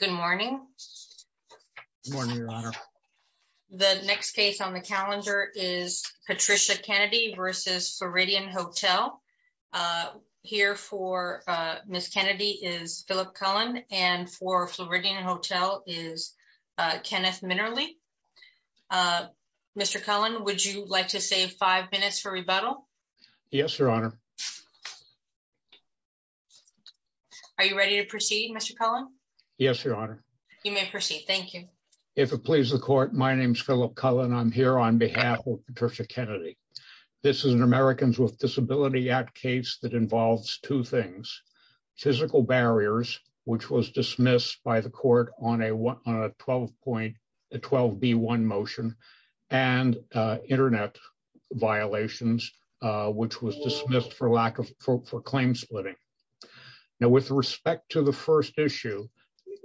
Good morning. Good morning, Your Honor. The next case on the calendar is Patricia Kennedy v. Floridian Hotel. Here for Ms. Kennedy is Philip Cullen, and for Floridian Hotel is Kenneth Minerly. Mr. Cullen, would you like to save five minutes for rebuttal? Yes, Your Honor. Are you ready to proceed, Mr. Cullen? Yes, Your Honor. You may proceed. Thank you. If it pleases the Court, my name is Philip Cullen. I'm here on behalf of Patricia Kennedy. This is an Americans with Disabilities Act case that involves two things. Physical barriers, which was dismissed by the Court on a 12B1 motion, and internet violations, which was dismissed for claim splitting. Now, with respect to the first issue,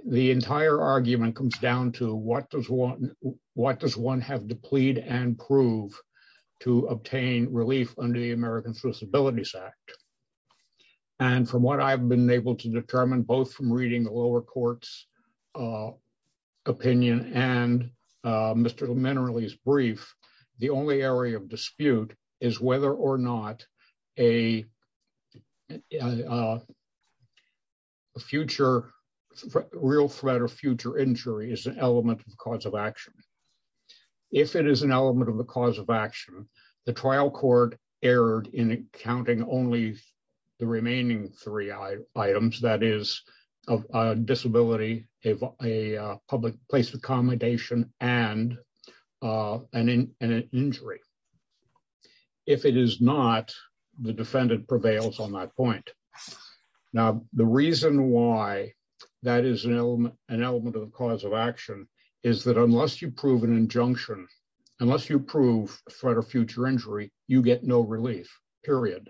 the entire argument comes down to what does one have to plead and prove to obtain relief under the Americans with Disabilities Act? From what I've been able to determine, both from reading the lower court's opinion and Mr. Minerly's brief, the only area of dispute is whether or not a real threat or future injury is an element of the cause of action. If it is an element of the cause of action, the trial court erred in counting only the remaining three items, that is a disability, a public place of accommodation, and an injury. If it is not, the defendant prevails on that point. Now, the reason why that is an element of the cause of action is that unless you prove an injunction, you get no relief, period.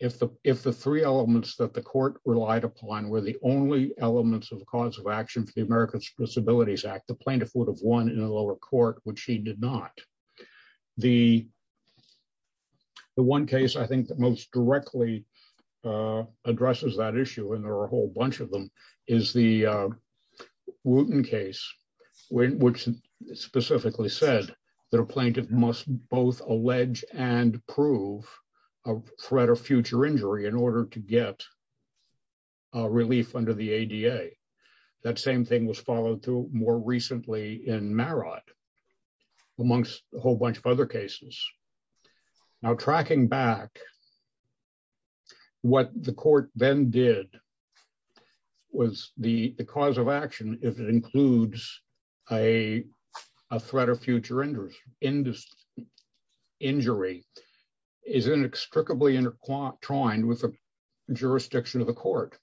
If the three elements that the court relied upon were the only elements of the cause of action for the Americans with Disabilities Act, the plaintiff would have won in a lower court, which he did not. The one case I think that most directly addresses that issue, and there are a whole bunch of them, is the Wooten case, which specifically said that a plaintiff must both allege and prove a threat or future injury in order to get a relief under the ADA. That same thing was followed through more recently in Marot, amongst a whole bunch of other cases. Now, tracking back, what the court then did was the cause of action, if it includes a threat or future injury, is inextricably intertwined with the jurisdiction of the court.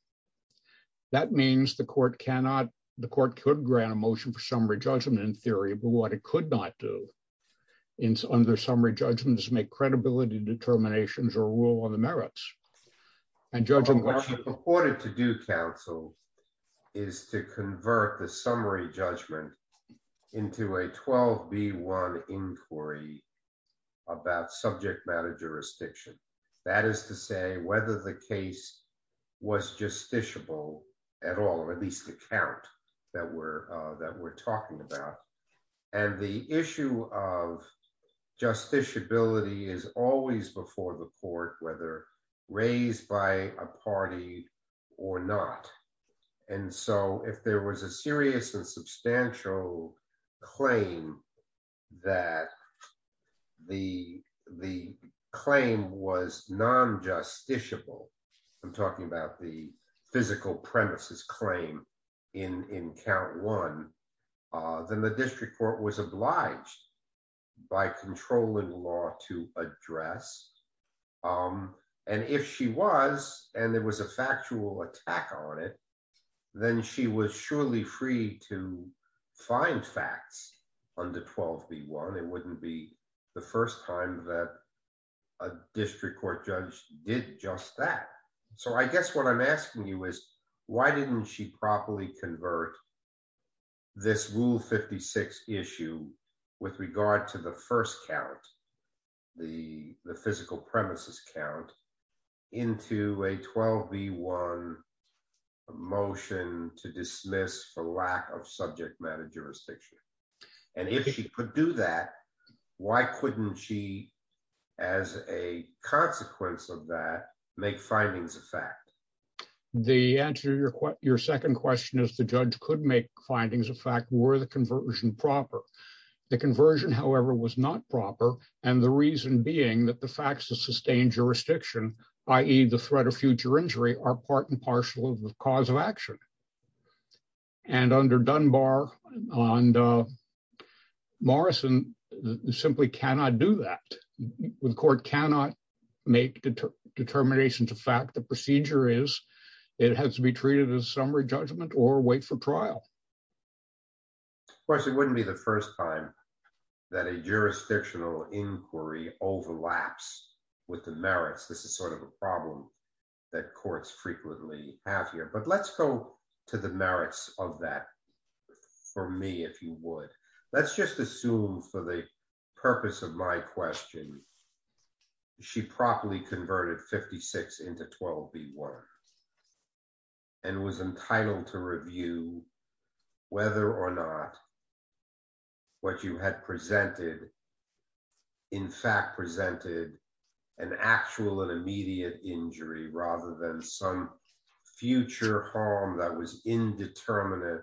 That means the court could grant a motion for summary judgment in theory, but what it could not do under summary judgment is make credibility determinations or rule on merits. What the court had to do, counsel, is to convert the summary judgment into a 12B1 inquiry about subject matter jurisdiction. That is to say whether the case was justiciable at all, or at least the count that we're talking about. The issue of justiciability is always before the raised by a party or not. If there was a serious and substantial claim that the claim was non-justiciable, I'm talking about the physical premises claim in count one, then the district court was obliged by controlling law to address. If she was, and there was a factual attack on it, then she was surely free to find facts under 12B1. It wouldn't be the first time that a district court judge did just that. I guess what I'm asking you is, why didn't she properly convert this Rule 56 issue with regard to the first count, the physical premises count, into a 12B1 motion to dismiss for lack of subject matter jurisdiction? If she could do that, why couldn't she, as a consequence of that, make findings of fact? The answer to your second question is the judge could make findings of fact were the conversion proper. The conversion, however, was not proper. The reason being that the facts of sustained jurisdiction, i.e. the threat of future injury, are part and partial of the cause of action. Under Dunbar and Morrison, you simply cannot do that. The court cannot make determinations of fact. The procedure is, it has to be treated as summary judgment or wait for trial. Of course, it wouldn't be the first time that a jurisdictional inquiry overlaps with the merits. This is a problem that courts frequently have here. Let's go to the merits of that for me, if you would. Let's just assume, for the purpose of my question, she properly converted 56 into 12B1 and was entitled to review whether or not what you had presented in fact presented an actual and immediate injury rather than some future harm that was indeterminate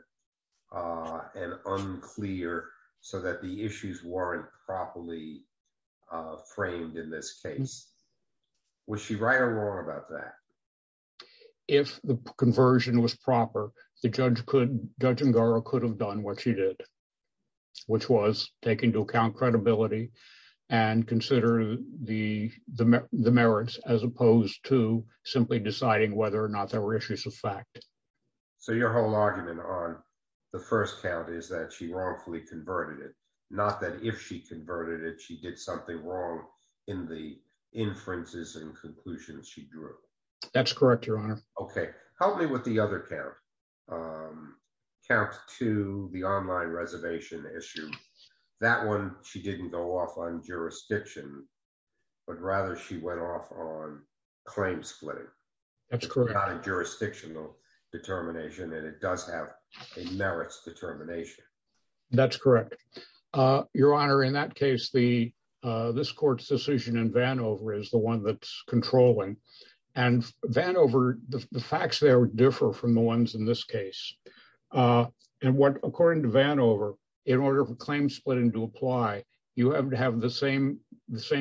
and unclear so that the issues weren't properly framed in this case. Was she right or wrong about that? If the conversion was proper, the judge could, Judge Ngura could have done what she did, which was taking into account credibility and consider the merits as opposed to simply deciding whether or not there were issues of fact. So your whole argument on the first count is that she wrongfully converted it, not that if she converted it, she did something wrong in the That's correct, Your Honor. Okay. Help me with the other count. Count two, the online reservation issue. That one, she didn't go off on jurisdiction, but rather she went off on claim splitting. That's correct. Not a jurisdictional determination, and it does have a merits determination. That's correct. Your Honor, in that case, this court's decision in Vanover is the one that's Vanover, the facts there differ from the ones in this case. And what, according to Vanover, in order for claim splitting to apply, you have to have the same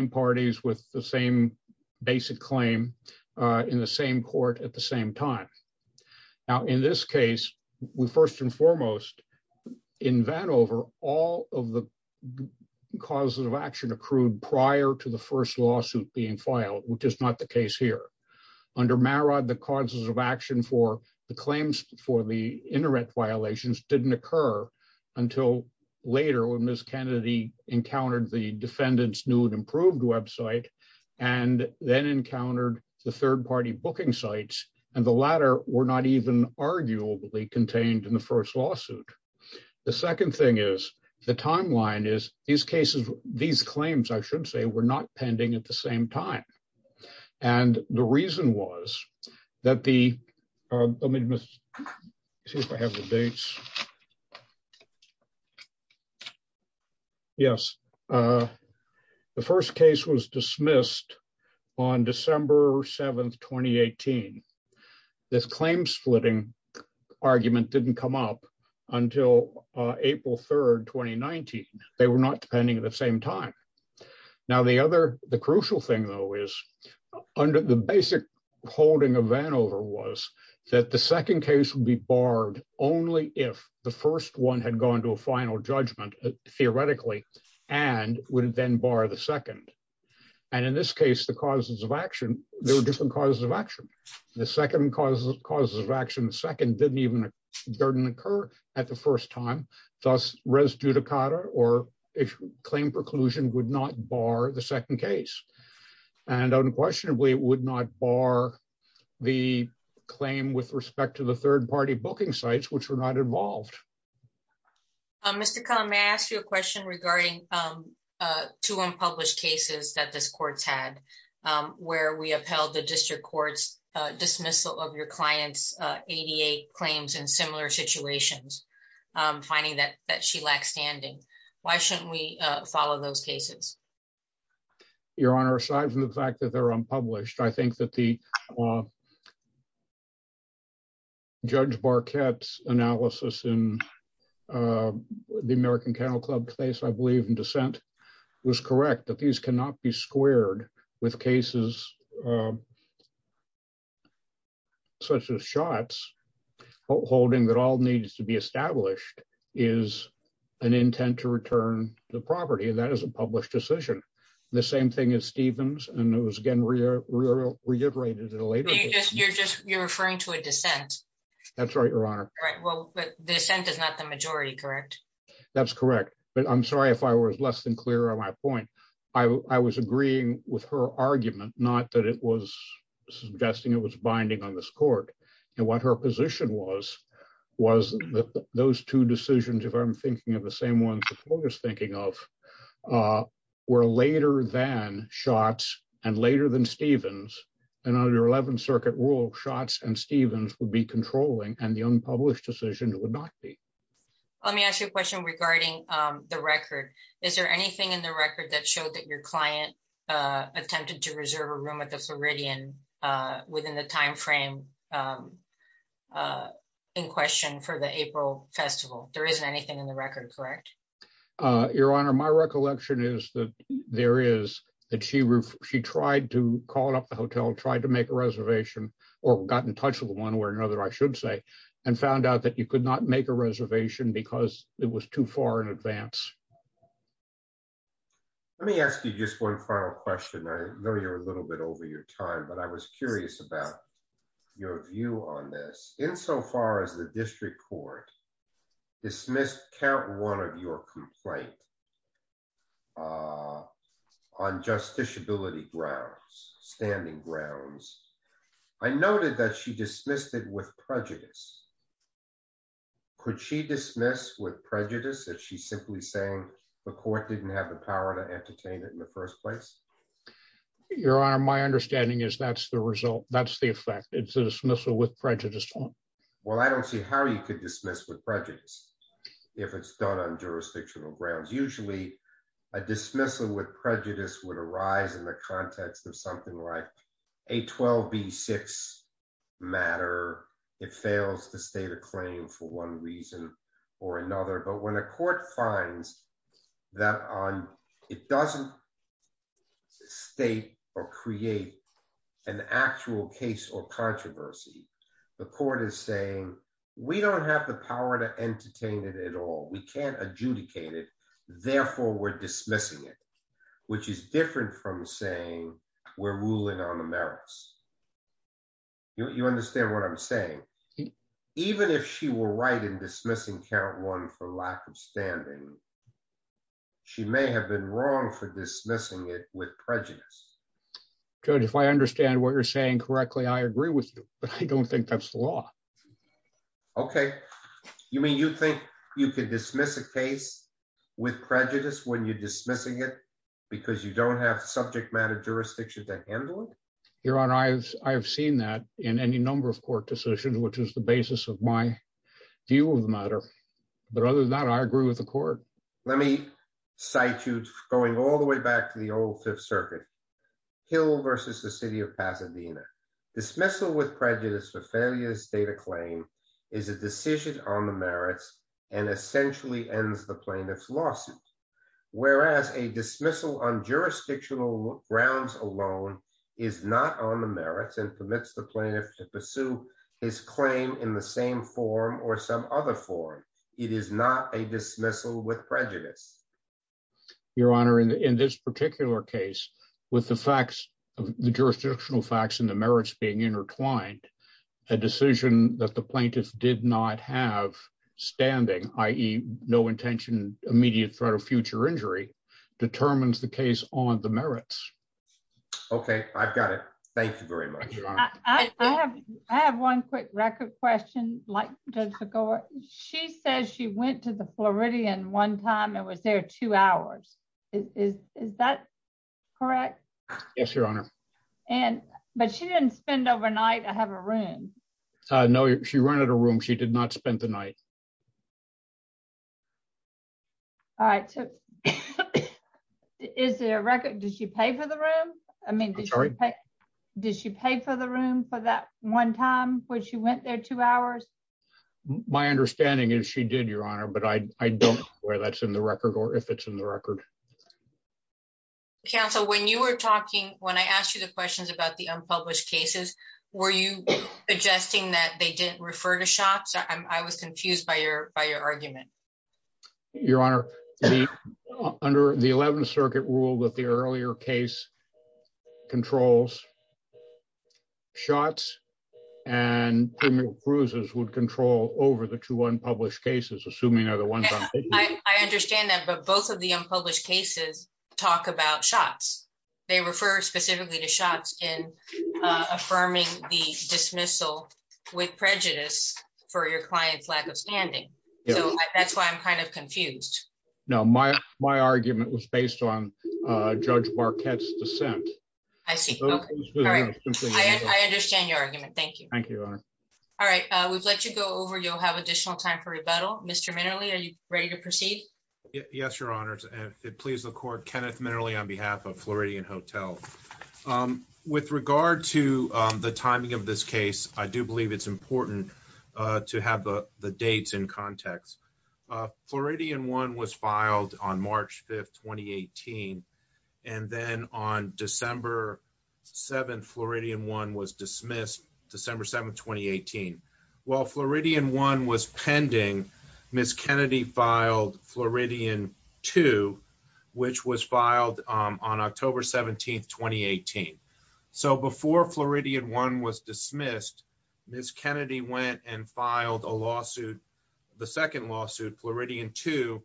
parties with the same basic claim in the same court at the same time. Now, in this case, we first and foremost, in Vanover, all of the causes of action accrued prior to the first lawsuit being filed, which is not the case here. Under Maraud, the causes of action for the claims for the internet violations didn't occur until later when Ms. Kennedy encountered the defendant's new and improved website and then encountered the third party booking sites, and the latter were not even arguably contained in the first lawsuit. The second thing is the timeline is these claims, I should say, were not pending at the same time. And the reason was that the the first case was dismissed on December 7th, 2018. This claim splitting argument didn't come up until April 3rd, 2019. They were not pending at the same time. Now, the other the crucial thing, though, is under the basic holding of Vanover was that the second case would be barred only if the first one had gone to a final judgment, theoretically, and would then bar the second. And in this case, the causes of action, there were different causes of action. The second causes of action, the second didn't even occur at the first time. Thus, res judicata or claim preclusion would not bar the second case. And unquestionably, it would not bar the claim with respect to the third party booking sites, which were not involved. Mr. Kahn, may I ask you a question regarding two unpublished cases that this court had, where we upheld the district court's dismissal of your client's 88 claims in similar situations, finding that that she lacks standing? Why shouldn't we follow those cases? Your Honor, aside from the fact that they're unpublished, I think that the Judge Barquette's analysis in the American Kennel Club case, I believe in dissent, was correct, that these cannot be squared with cases such as Schatz, holding that all needs to be established is an intent to return the property, and that is a published decision. The same thing as Stevens, and it was again reiterated in a later case. You're just, you're referring to a dissent. That's right, Your Honor. Right, well, but dissent is not the majority, correct? That's correct, but I'm sorry if I was less than clear on my point. I was agreeing with her argument, not that it was suggesting it was binding on this court, and what her position was, was that those two decisions, if I'm thinking of the same ones the court was thinking of, were later than Schatz and later than Stevens, and under 11th Circuit rule, Schatz and Stevens would be controlling, and the unpublished decision would not be. Let me ask you a question regarding the record. Is there anything in the record that showed that your client attempted to reserve a room at the Floridian within the time frame in question for the April festival? There isn't anything in the record, correct? Your Honor, my recollection is that there is, that she tried to call up the hotel, tried to make a reservation, or got in touch with one way or another, I should say, and found out that you could not make a reservation because it was too far in advance. Let me ask you just one final question. I know you're a little bit over your time, but I was curious about your view on this. Insofar as the district court dismissed count one of your complaint on justiciability grounds, standing grounds, I noted that she dismissed it with prejudice. Could she dismiss with prejudice if she's simply saying the court didn't have the power to entertain it in the first place? Your Honor, my understanding is that's the result, that's the effect. It's a dismissal with prejudice. Well, I don't see how you could dismiss with prejudice if it's done on jurisdictional grounds. Usually, a dismissal with prejudice would arise in the context of something like a 12b6 matter. It fails to state a claim for one reason or another. But when a court finds that it doesn't state or create an actual case or controversy, the court is saying, we don't have the power to entertain it at all. We can't adjudicate it. Therefore, we're dismissing it, which is different from saying we're ruling on the merits. You understand what I'm saying? Even if she were right in dismissing count one for lack of standing, she may have been wrong for dismissing it with prejudice. Judge, if I understand what you're saying correctly, I agree with you, but I don't think that's the law. Okay. You mean you think you could dismiss a case with prejudice when you're dismissing it because you don't have subject matter jurisdiction to handle it? Your Honor, I've seen that in any number of court decisions, which is the basis of my view of the matter. But other than that, I agree with the court. Let me cite you going all the way back to the old Fifth Circuit. Hill versus the city of and essentially ends the plaintiff's lawsuit. Whereas a dismissal on jurisdictional grounds alone is not on the merits and permits the plaintiff to pursue his claim in the same form or some other form. It is not a dismissal with prejudice. Your Honor, in this particular case, with the facts of the jurisdictional facts and the merits being intertwined, a decision that the plaintiff did not have standing, i.e. no intention, immediate threat of future injury, determines the case on the merits. Okay, I've got it. Thank you very much. I have one quick record question like Judge Figueroa. She says she went to the Floridian one time and was there two hours. Is that correct? Yes, Your Honor. And but she didn't spend overnight. I have a room. No, she rented a room. She did not spend the night. All right. Is there a record? Did you pay for the room? I mean, sorry. Did she pay for the room for that one time when she went there two hours? My understanding is she did, Your Honor, but I don't know whether that's in the record or if it's in the record. Counsel, when you were talking, when I asked you the questions about the unpublished cases, were you suggesting that they didn't refer to shots? I was confused by your argument. Your Honor, under the 11th Circuit rule that the earlier case controls shots and cruises would control over the two unpublished cases, assuming other ones. I understand that. But both of the unpublished cases talk about shots. They refer specifically to shots in affirming the dismissal with prejudice for your client's lack of standing. So that's why I'm kind of confused. No, my argument was based on Judge Marquette's dissent. I see. All right. I understand your argument. Thank you. Thank you, Your Honor. All right. We've let you go over. You'll have additional time for rebuttal. Mr. Minerly, are you ready to proceed? Yes, Your Honor. If it pleases the Court, Kenneth Minerly on behalf of Floridian Hotel. With regard to the timing of this case, I do believe it's important to have the dates in the record. It's October 17, 2018. And then on December 7, Floridian 1 was dismissed. December 7, 2018. While Floridian 1 was pending, Ms. Kennedy filed Floridian 2, which was filed on October 17, 2018. So before Floridian 1 was dismissed, Ms. Kennedy went and filed a lawsuit, the second Floridian 2,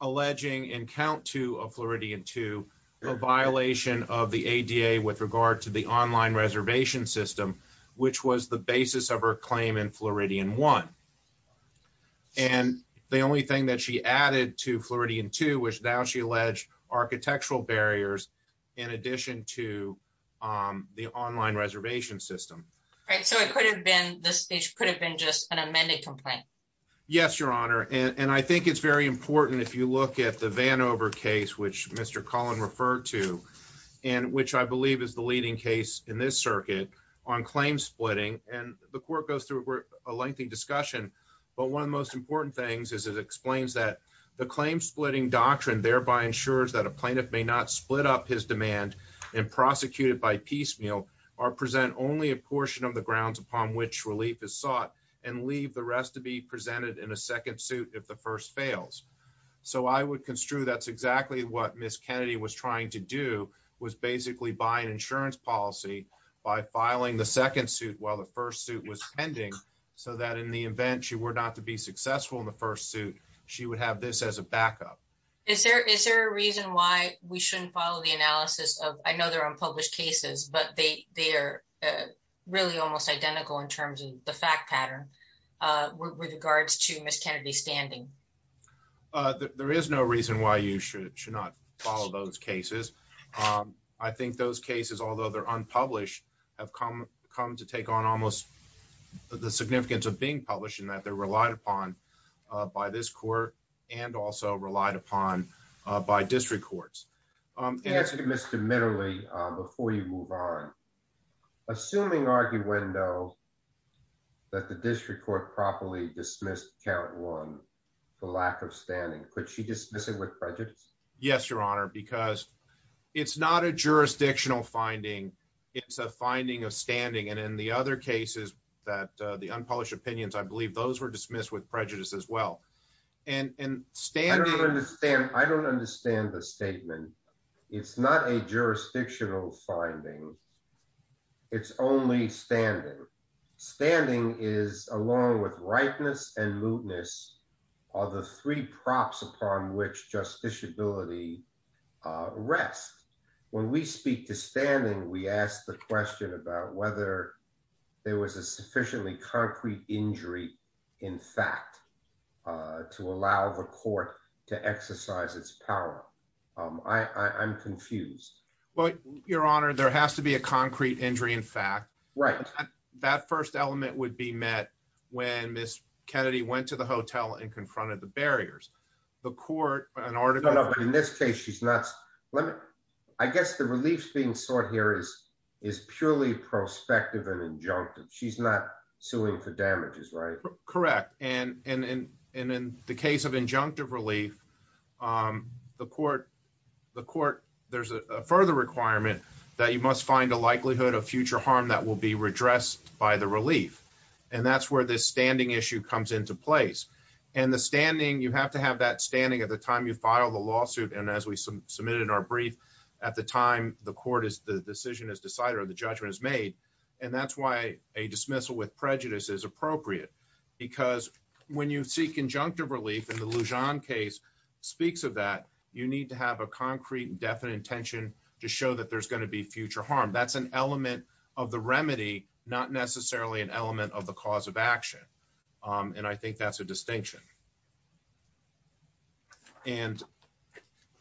alleging in count two of Floridian 2, a violation of the ADA with regard to the online reservation system, which was the basis of her claim in Floridian 1. And the only thing that she added to Floridian 2 was now she alleged architectural barriers in addition to the online reservation system. Right. So it could have been, this speech could have been just an amended complaint. Yes, Your Honor. And I think it's very important if you look at the Vanover case, which Mr. Cullen referred to, and which I believe is the leading case in this circuit on claim splitting. And the Court goes through a lengthy discussion. But one of the most important things is it explains that the claim splitting doctrine thereby ensures that a plaintiff may not split up his demand and prosecute it by piecemeal, or present only a portion of the grounds upon which relief is sought, and leave the rest to be presented in a second suit if the first fails. So I would construe that's exactly what Ms. Kennedy was trying to do, was basically buy an insurance policy by filing the second suit while the first suit was pending, so that in the event she were not to be successful in the first suit, she would have this as a backup. Is there a reason why we shouldn't follow the analysis of, I know they're unpublished cases, but they are really almost identical in terms of the fact pattern with regards to Ms. Kennedy's standing? There is no reason why you should not follow those cases. I think those cases, although they're unpublished, have come to take on almost the significance of being published, in that they're relied upon by this Court, and also relied upon by district courts. To Mr. Middley, before you move on, assuming arguendo that the district court properly dismissed count one, the lack of standing, could she dismiss it with prejudice? Yes, Your Honor, because it's not a jurisdictional finding, it's a finding of standing, and in the other cases that the unpublished opinions, I believe those were dismissed with prejudice as well. I don't understand the statement. It's not a jurisdictional finding, it's only standing. Standing is, along with rightness and mootness, are the three props upon which justiciability rests. When we speak to standing, we ask the question about whether there was a sufficiently concrete injury in fact to allow the Court to exercise its power. I'm confused. Your Honor, there has to be a concrete injury in fact. That first element would be met when Ms. Kennedy went to the hotel and confronted the barriers. No, but in this case, I guess the relief being sought here is purely prospective and injunctive. She's not suing for damages, right? Correct, and in the case of injunctive relief, there's a further requirement that you must find a likelihood of future harm that will be redressed by the relief, and that's where this standing issue comes into place. You have to have that standing at the time you file the lawsuit, and as we submitted in our brief, at the time the decision is decided or the judgment is made, and that's why a dismissal with prejudice is appropriate, because when you seek injunctive relief, and the Lujan case speaks of that, you need to have a concrete and definite intention to show that there's going to be future harm. That's an element of the remedy, not necessarily an element of the cause of action, and I think that's a distinction. And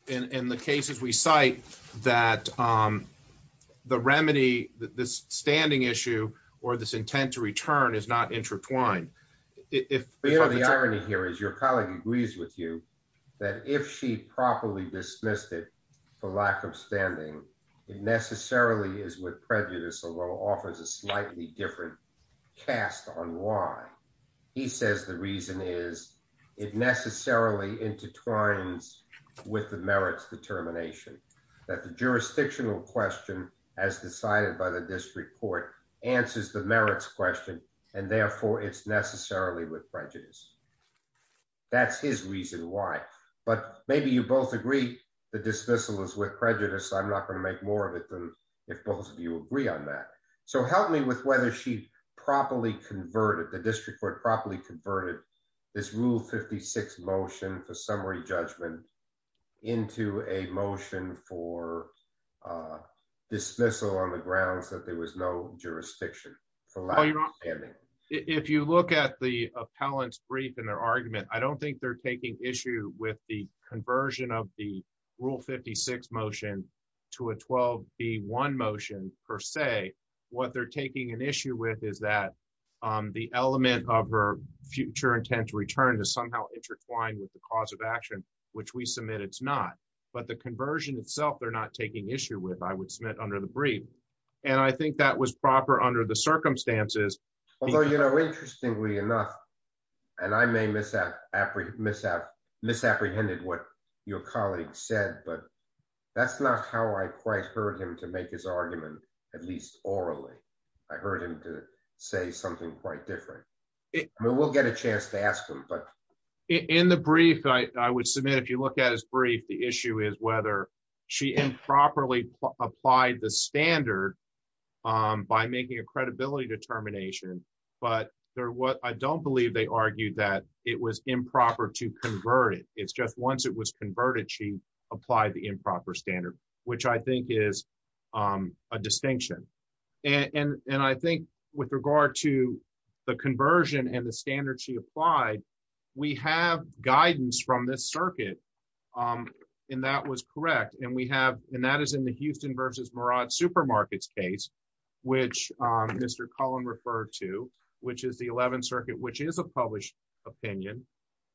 in the cases we cite that the remedy, this standing issue or this intent to return is not intertwined. The irony here is your colleague agrees with you that if she properly dismissed the lack of standing, it necessarily is with prejudice, although offers a slightly different cast on why. He says the reason is it necessarily intertwines with the merits determination, that the jurisdictional question, as decided by the district court, answers the merits question, and therefore it's necessarily with prejudice. That's his reason why, but maybe you both agree the dismissal is with prejudice, so I'm not going to make more of it than if both of you agree on that. So help me with whether she properly converted, the district court properly converted this rule 56 motion for summary judgment into a motion for dismissal on the grounds that there was no jurisdiction for lack of standing. If you look at the appellant's brief and their rule 56 motion to a 12B1 motion per se, what they're taking an issue with is that the element of her future intent to return is somehow intertwined with the cause of action, which we submit it's not, but the conversion itself they're not taking issue with, I would submit under the brief, and I think that was proper under the circumstances. Although, you know, but that's not how I quite heard him to make his argument, at least orally. I heard him to say something quite different. We will get a chance to ask them, but in the brief, I would submit if you look at his brief, the issue is whether she improperly applied the standard by making a credibility determination, but there was, I don't believe they argued that it was improper to convert it. It's just once it was converted, she applied the improper standard, which I think is a distinction. And I think with regard to the conversion and the standard she applied, we have guidance from this circuit, and that was correct. And we have, and that is in the Houston versus Murad supermarkets case, which Mr. Cullen referred to, which is the 11th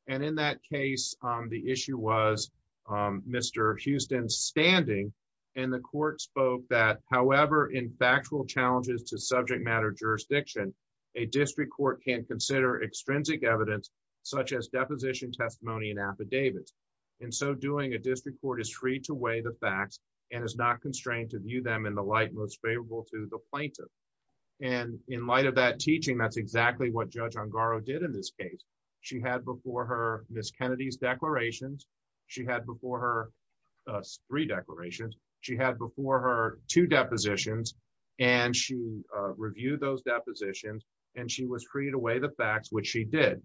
and in that case, the issue was Mr. Houston's standing. And the court spoke that, however, in factual challenges to subject matter jurisdiction, a district court can consider extrinsic evidence, such as deposition testimony and affidavits. And so doing a district court is free to weigh the facts, and is not constrained to view them in the light most favorable to the plaintiff. And in light of that teaching, that's exactly what Judge Ongaro did in this case. She had before her Miss Kennedy's declarations, she had before her three declarations, she had before her two depositions, and she reviewed those depositions, and she was free to weigh the facts, which she did.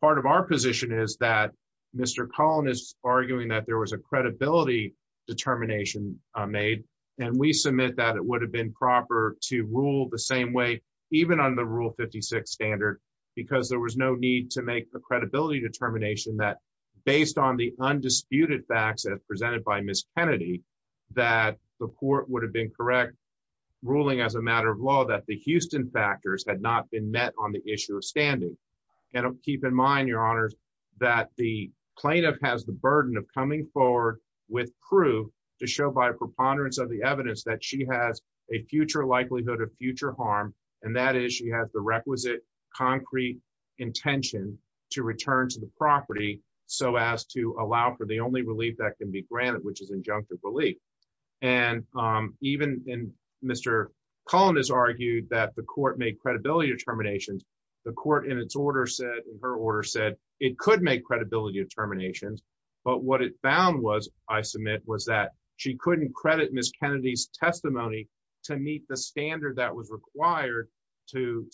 Part of our position is that Mr. Cullen is arguing that there was a credibility determination made, and we submit that it would have been proper to rule the same way, even on the rule 56 standard, because there was no need to make a credibility determination that based on the undisputed facts presented by Miss Kennedy, that the court would have been correct ruling as a matter of law that the Houston factors had not been met on the issue of standing. And keep in mind, Your Honor, that the plaintiff has the burden of coming forward with proof to show by preponderance of the evidence that she has a future likelihood of the requisite, concrete intention to return to the property, so as to allow for the only relief that can be granted, which is injunctive relief. And even in Mr. Cullen has argued that the court made credibility determinations. The court in its order said, in her order said, it could make credibility determinations. But what it found was, I submit, was that she couldn't credit Miss Kennedy's testimony to meet the standard that was required to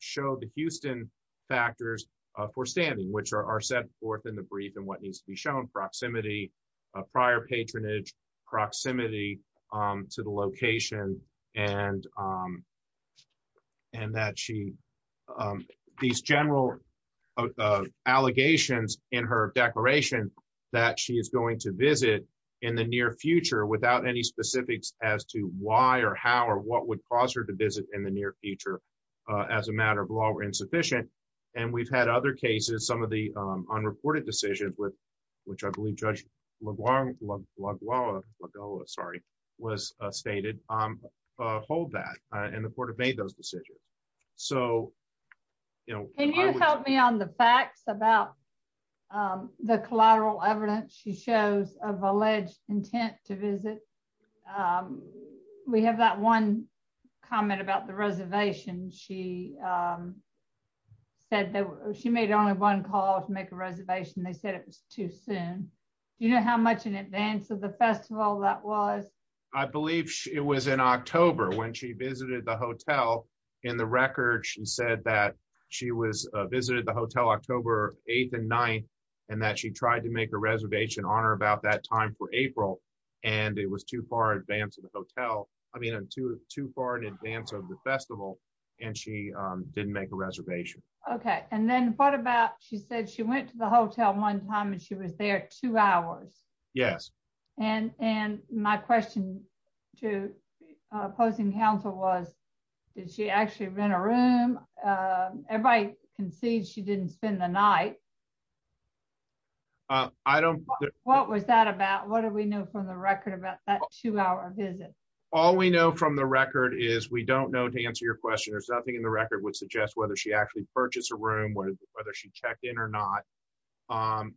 show the Houston factors for standing, which are set forth in the brief and what needs to be shown, proximity, prior patronage, proximity to the location, and that she, these general allegations in her declaration, that she is going to visit in the near future without any specifics as to why or how or what would cause her to visit in the near future, as a matter of law were insufficient. And we've had other cases, some of the unreported decisions with which I believe, Judge LeBlanc, love love love, sorry, was stated, hold that, and the court have made those decisions. So, you know, Can you help me on the facts about the collateral evidence she shows of alleged intent to visit? We have that one comment about the reservation. She said that she made only one call to make a reservation. They said it was too soon. Do you know how much in advance of the festival that was? I believe it was in October when she visited the hotel. In the record, she said that she was visited the hotel October 8th and 9th, and that she tried to make a reservation on or about that time for April, and it was too far in advance of the hotel. I mean, too far in advance of the festival, and she didn't make a reservation. Okay, and then what about, she said she went to the hotel one time and she was there two hours. Yes. And, and my question to opposing counsel was, did she actually rent a room? Everybody can see she didn't spend the night. I don't. What was that about? What do we know from the record about that two hour visit? All we know from the record is we don't know to answer your question. There's nothing in the record.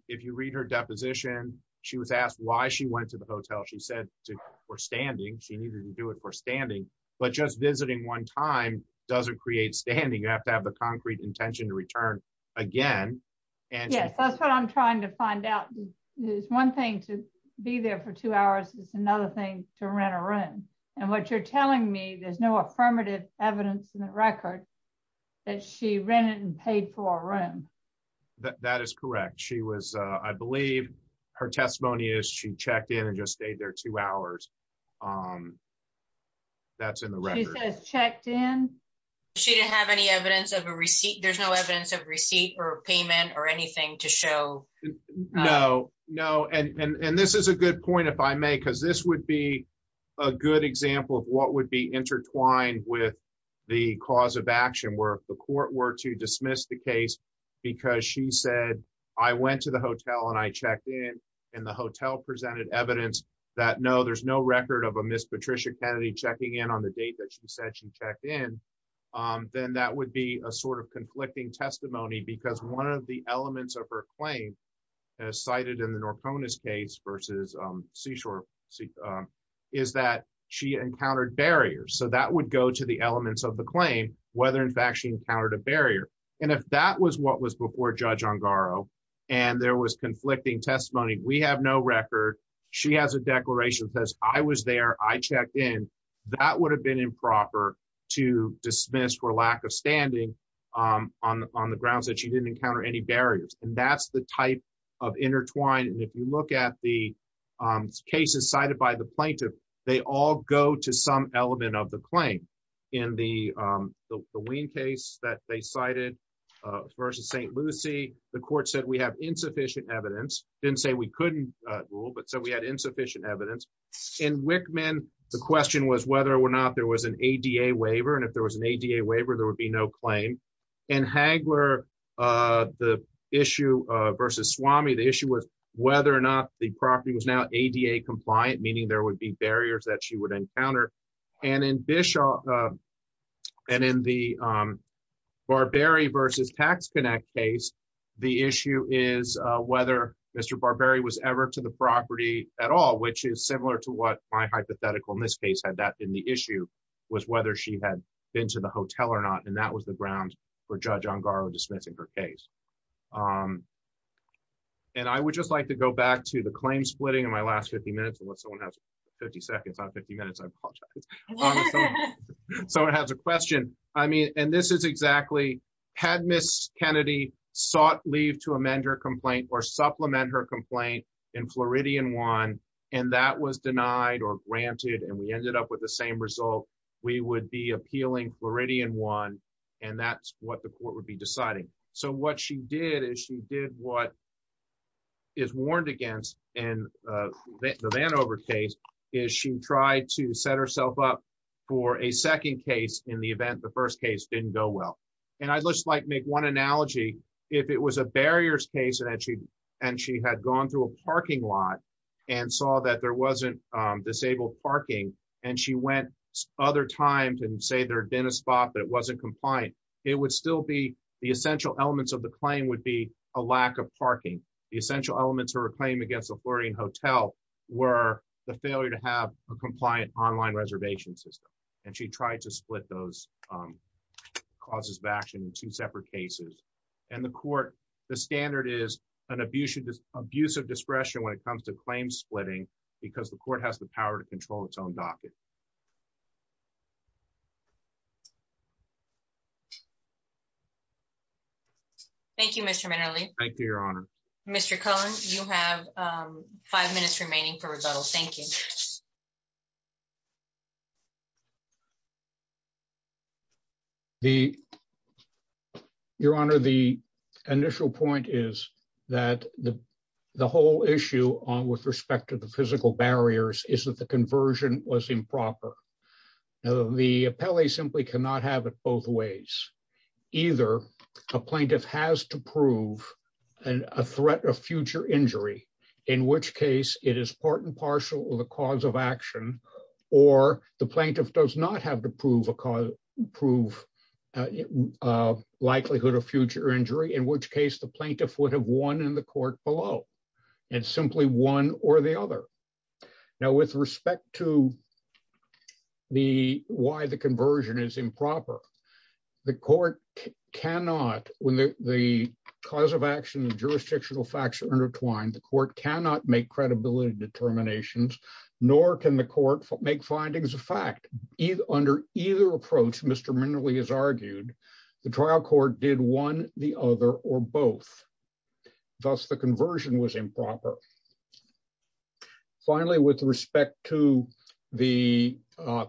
If you read her deposition, she was asked why she went to the hotel. She said to, for standing. She needed to do it for standing, but just visiting one time doesn't create standing. You have to have the concrete intention to return again. Yes, that's what I'm trying to find out. There's one thing to be there for two hours. It's another thing to rent a room, and what you're telling me, there's no affirmative evidence in the record that she rented and paid for a room. That is correct. She was, I believe her testimony is she checked in and just stayed there two hours. That's in the record. She says checked in. She didn't have any evidence of a receipt. There's no evidence of receipt or payment or anything to show. No, no. And, and this is a good point if I may, because this would be a good example of what would be intertwined with the cause of action where the court were to dismiss the case because she said, I went to the hotel and I checked in and the hotel presented evidence that no, there's no record of a Miss Patricia Kennedy checking in on the date that she said she checked in. Then that would be a sort of conflicting testimony because one of the is that she encountered barriers. So that would go to the elements of the claim, whether in fact she encountered a barrier. And if that was what was before judge on Garo, and there was conflicting testimony, we have no record. She has a declaration that says I was there. I checked in. That would have been improper to dismiss for lack of standing on the grounds that she didn't encounter any barriers. And that's the type of intertwined. And if you look at the cases cited by the plaintiff, they all go to some element of the claim in the, the, the Wayne case that they cited versus St. Lucie, the court said we have insufficient evidence. Didn't say we couldn't rule, but so we had insufficient evidence in Wichman. The question was whether or not there was an ADA waiver. And if there was an ADA waiver, there would be no claim. And Hagler, the issue versus Swami, the issue was whether or not the property was now ADA compliant, meaning there would be barriers that she would encounter. And in Bishop, and in the Barbary versus tax connect case, the issue is whether Mr. Barbary was ever to the property at all, which is similar to what my hypothetical in this case, had that in the issue was whether she had been to the hotel or not. And that was the ground for judge on Garland dismissing her case. And I would just like to go back to the claim splitting in my last 50 minutes and what someone has 50 seconds on 50 minutes. I apologize. So it has a question. I mean, and this is exactly had Miss Kennedy sought leave to amend her complaint or supplement her complaint in Floridian one. And that was denied or granted. And we ended up with the same result, we would be appealing Floridian one. And that's what the court would be deciding. So what she did is she did what is warned against and the van over case is she tried to set herself up for a second case in the event the first case didn't go well. And I'd just like make one analogy if it was a barriers case and she and she had gone to a parking lot and saw that there wasn't disabled parking and she went other times and say there had been a spot that wasn't compliant. It would still be the essential elements of the claim would be a lack of parking. The essential elements are a claim against the Floridian hotel were the failure to have a compliant online reservation system. And she tried to split those causes of action in two separate cases. And the court, the standard is an abusive, abusive discretion when it comes to claim splitting, because the court has the power to control its own docket. Thank you, Mr. Minerally. Thank you, Your Honor. Mr. Collins, you have five minutes remaining for rebuttal. Thank you. Your Honor, the initial point is that the whole issue on with respect to the physical barriers is that the conversion was improper. The appellee simply cannot have it both ways. Either a plaintiff has to prove a threat of future injury, in which case it is part and the plaintiff does not have to prove a likelihood of future injury, in which case the plaintiff would have won in the court below and simply one or the other. Now, with respect to why the conversion is improper, the court cannot, when the cause of action and jurisdictional facts are intertwined, the court cannot make credibility determinations, nor can the court make findings either under either approach. Mr. Minerally has argued the trial court did one, the other, or both. Thus, the conversion was improper. Finally, with respect to the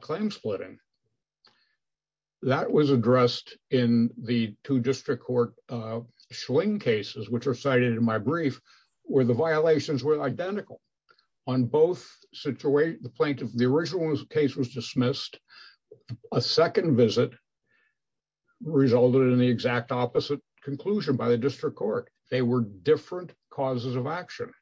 claim splitting, that was addressed in the two district court Schling cases, which are cited in my brief, where the violations were identical. On both, the plaintiff, the original case was dismissed. A second visit resulted in the exact opposite conclusion by the district court. They were different causes of action.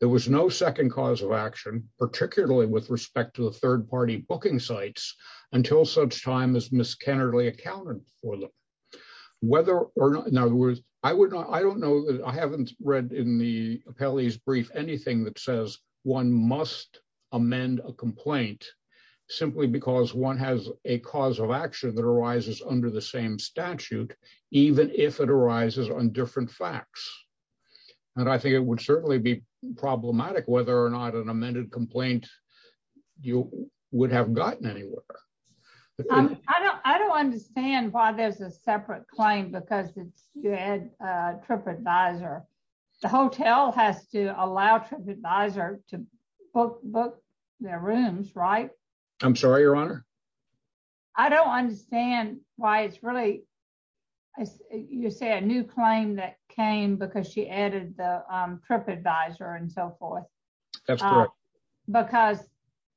There was no second cause of action, particularly with respect to the third party booking sites, until such time as Ms. Kennerly accounted for them. Whether or not, in other words, I don't know, I haven't read in the appellee's brief anything that says one must amend a complaint simply because one has a cause of action that arises under the same statute, even if it arises on different facts. And I think it would certainly be problematic whether or not an amended complaint would have gotten anywhere. But I don't, I don't understand why there's a separate claim, because it's good. Trip advisor, the hotel has to allow trip advisor to book book their rooms, right? I'm sorry, Your Honor. I don't understand why it's really as you say, a new claim that came because she added the trip advisor and so forth. Because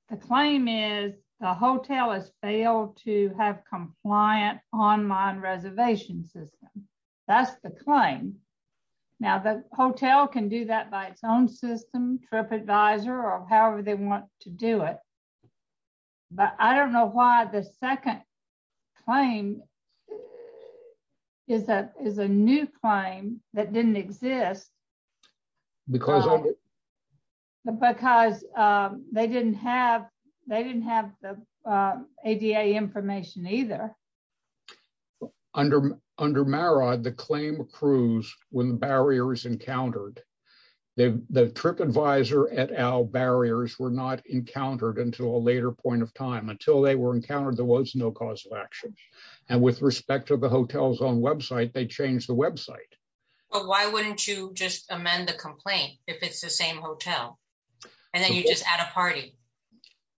the claim is the hotel has failed to have compliant online reservation system. That's the claim. Now the hotel can do that by its own system trip advisor or however they want to do it. But I don't know why the second claim is that is a new claim that didn't exist. Because because they didn't have they didn't have the ADA information either. Under under Mara, the claim accrues when the barriers encountered the trip advisor at our barriers were not encountered until a later point of time until they were encountered, there was no cause of action. And with respect to the hotels on website, they changed the website. But why wouldn't you just amend the complaint if it's the same hotel, and then you just add a party,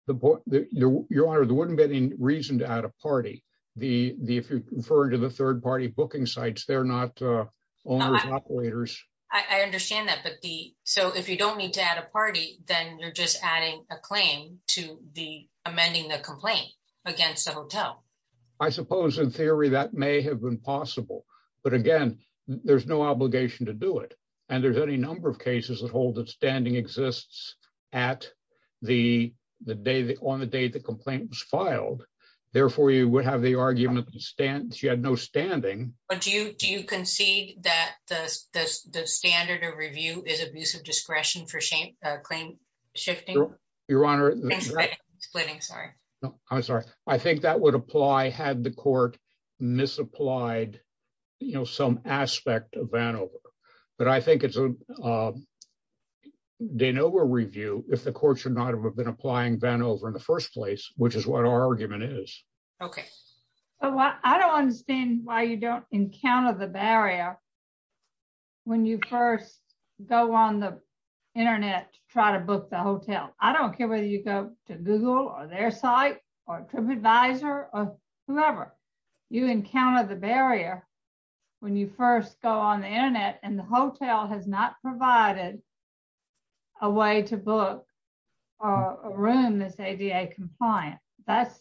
the board, Your Honor, there wouldn't be any reason to add a party, the the if you refer to the third party booking sites, they're not owners operators. I understand that. But the so if you don't need to add a party, then you're just adding a claim to the amending the complaint against the hotel. I suppose in theory, that may have been possible. But again, there's no obligation to do it. And there's any number of cases that hold that standing exists at the the day that on the day the complaint was filed. Therefore, you would have the argument to stand she had no standing. But do you do you concede that the standard of review is abusive discretion for shame claim shifting? Your Honor? I'm sorry, I think that would apply had the court misapplied, you know, some aspect of Vanover. But I think it's a de novo review if the courts are not have been applying Vanover in the first place, which is what our argument is. Okay. Well, I don't understand why you don't encounter the barrier. When you first go on the internet, try to book the hotel, I don't care whether you go to Google or their site, or TripAdvisor or whoever, you encounter the barrier. When you first go on the internet, and the hotel has not provided a way to book a room that's ADA compliant. That's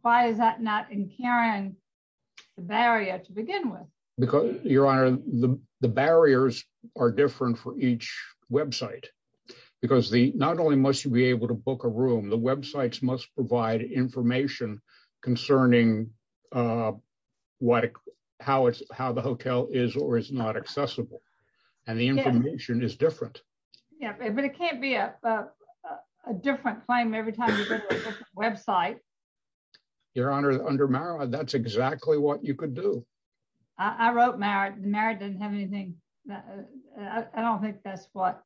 why is that not in Karen barrier to begin with? Because Your Honor, the barriers are different for each website. Because the not only must you be able to book a room, the websites must provide information concerning what, how it's how the hotel is or is not accessible. And the information is different. Yeah, but it can't be a different claim every time website. Your Honor, under Mara, that's exactly what you could do. I wrote Mara Mara didn't have anything. I don't think that's what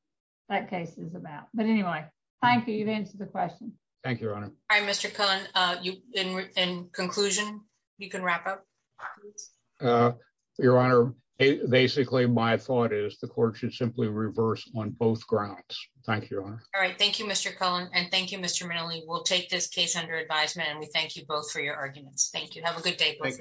that case is about. But anyway, thank you. You've answered the question. Thank you, Your Honor. All right, Mr. Cohen. In conclusion, you can wrap up. Your Honor, basically, my thought is the court should simply reverse on both grounds. Thank you, Your Honor. All right. Thank you, Mr. Cohen. And thank you, Mr. Minnelli. We'll take this case under advisement. And we thank you both for your arguments. Thank you. Have a good day. Thank you.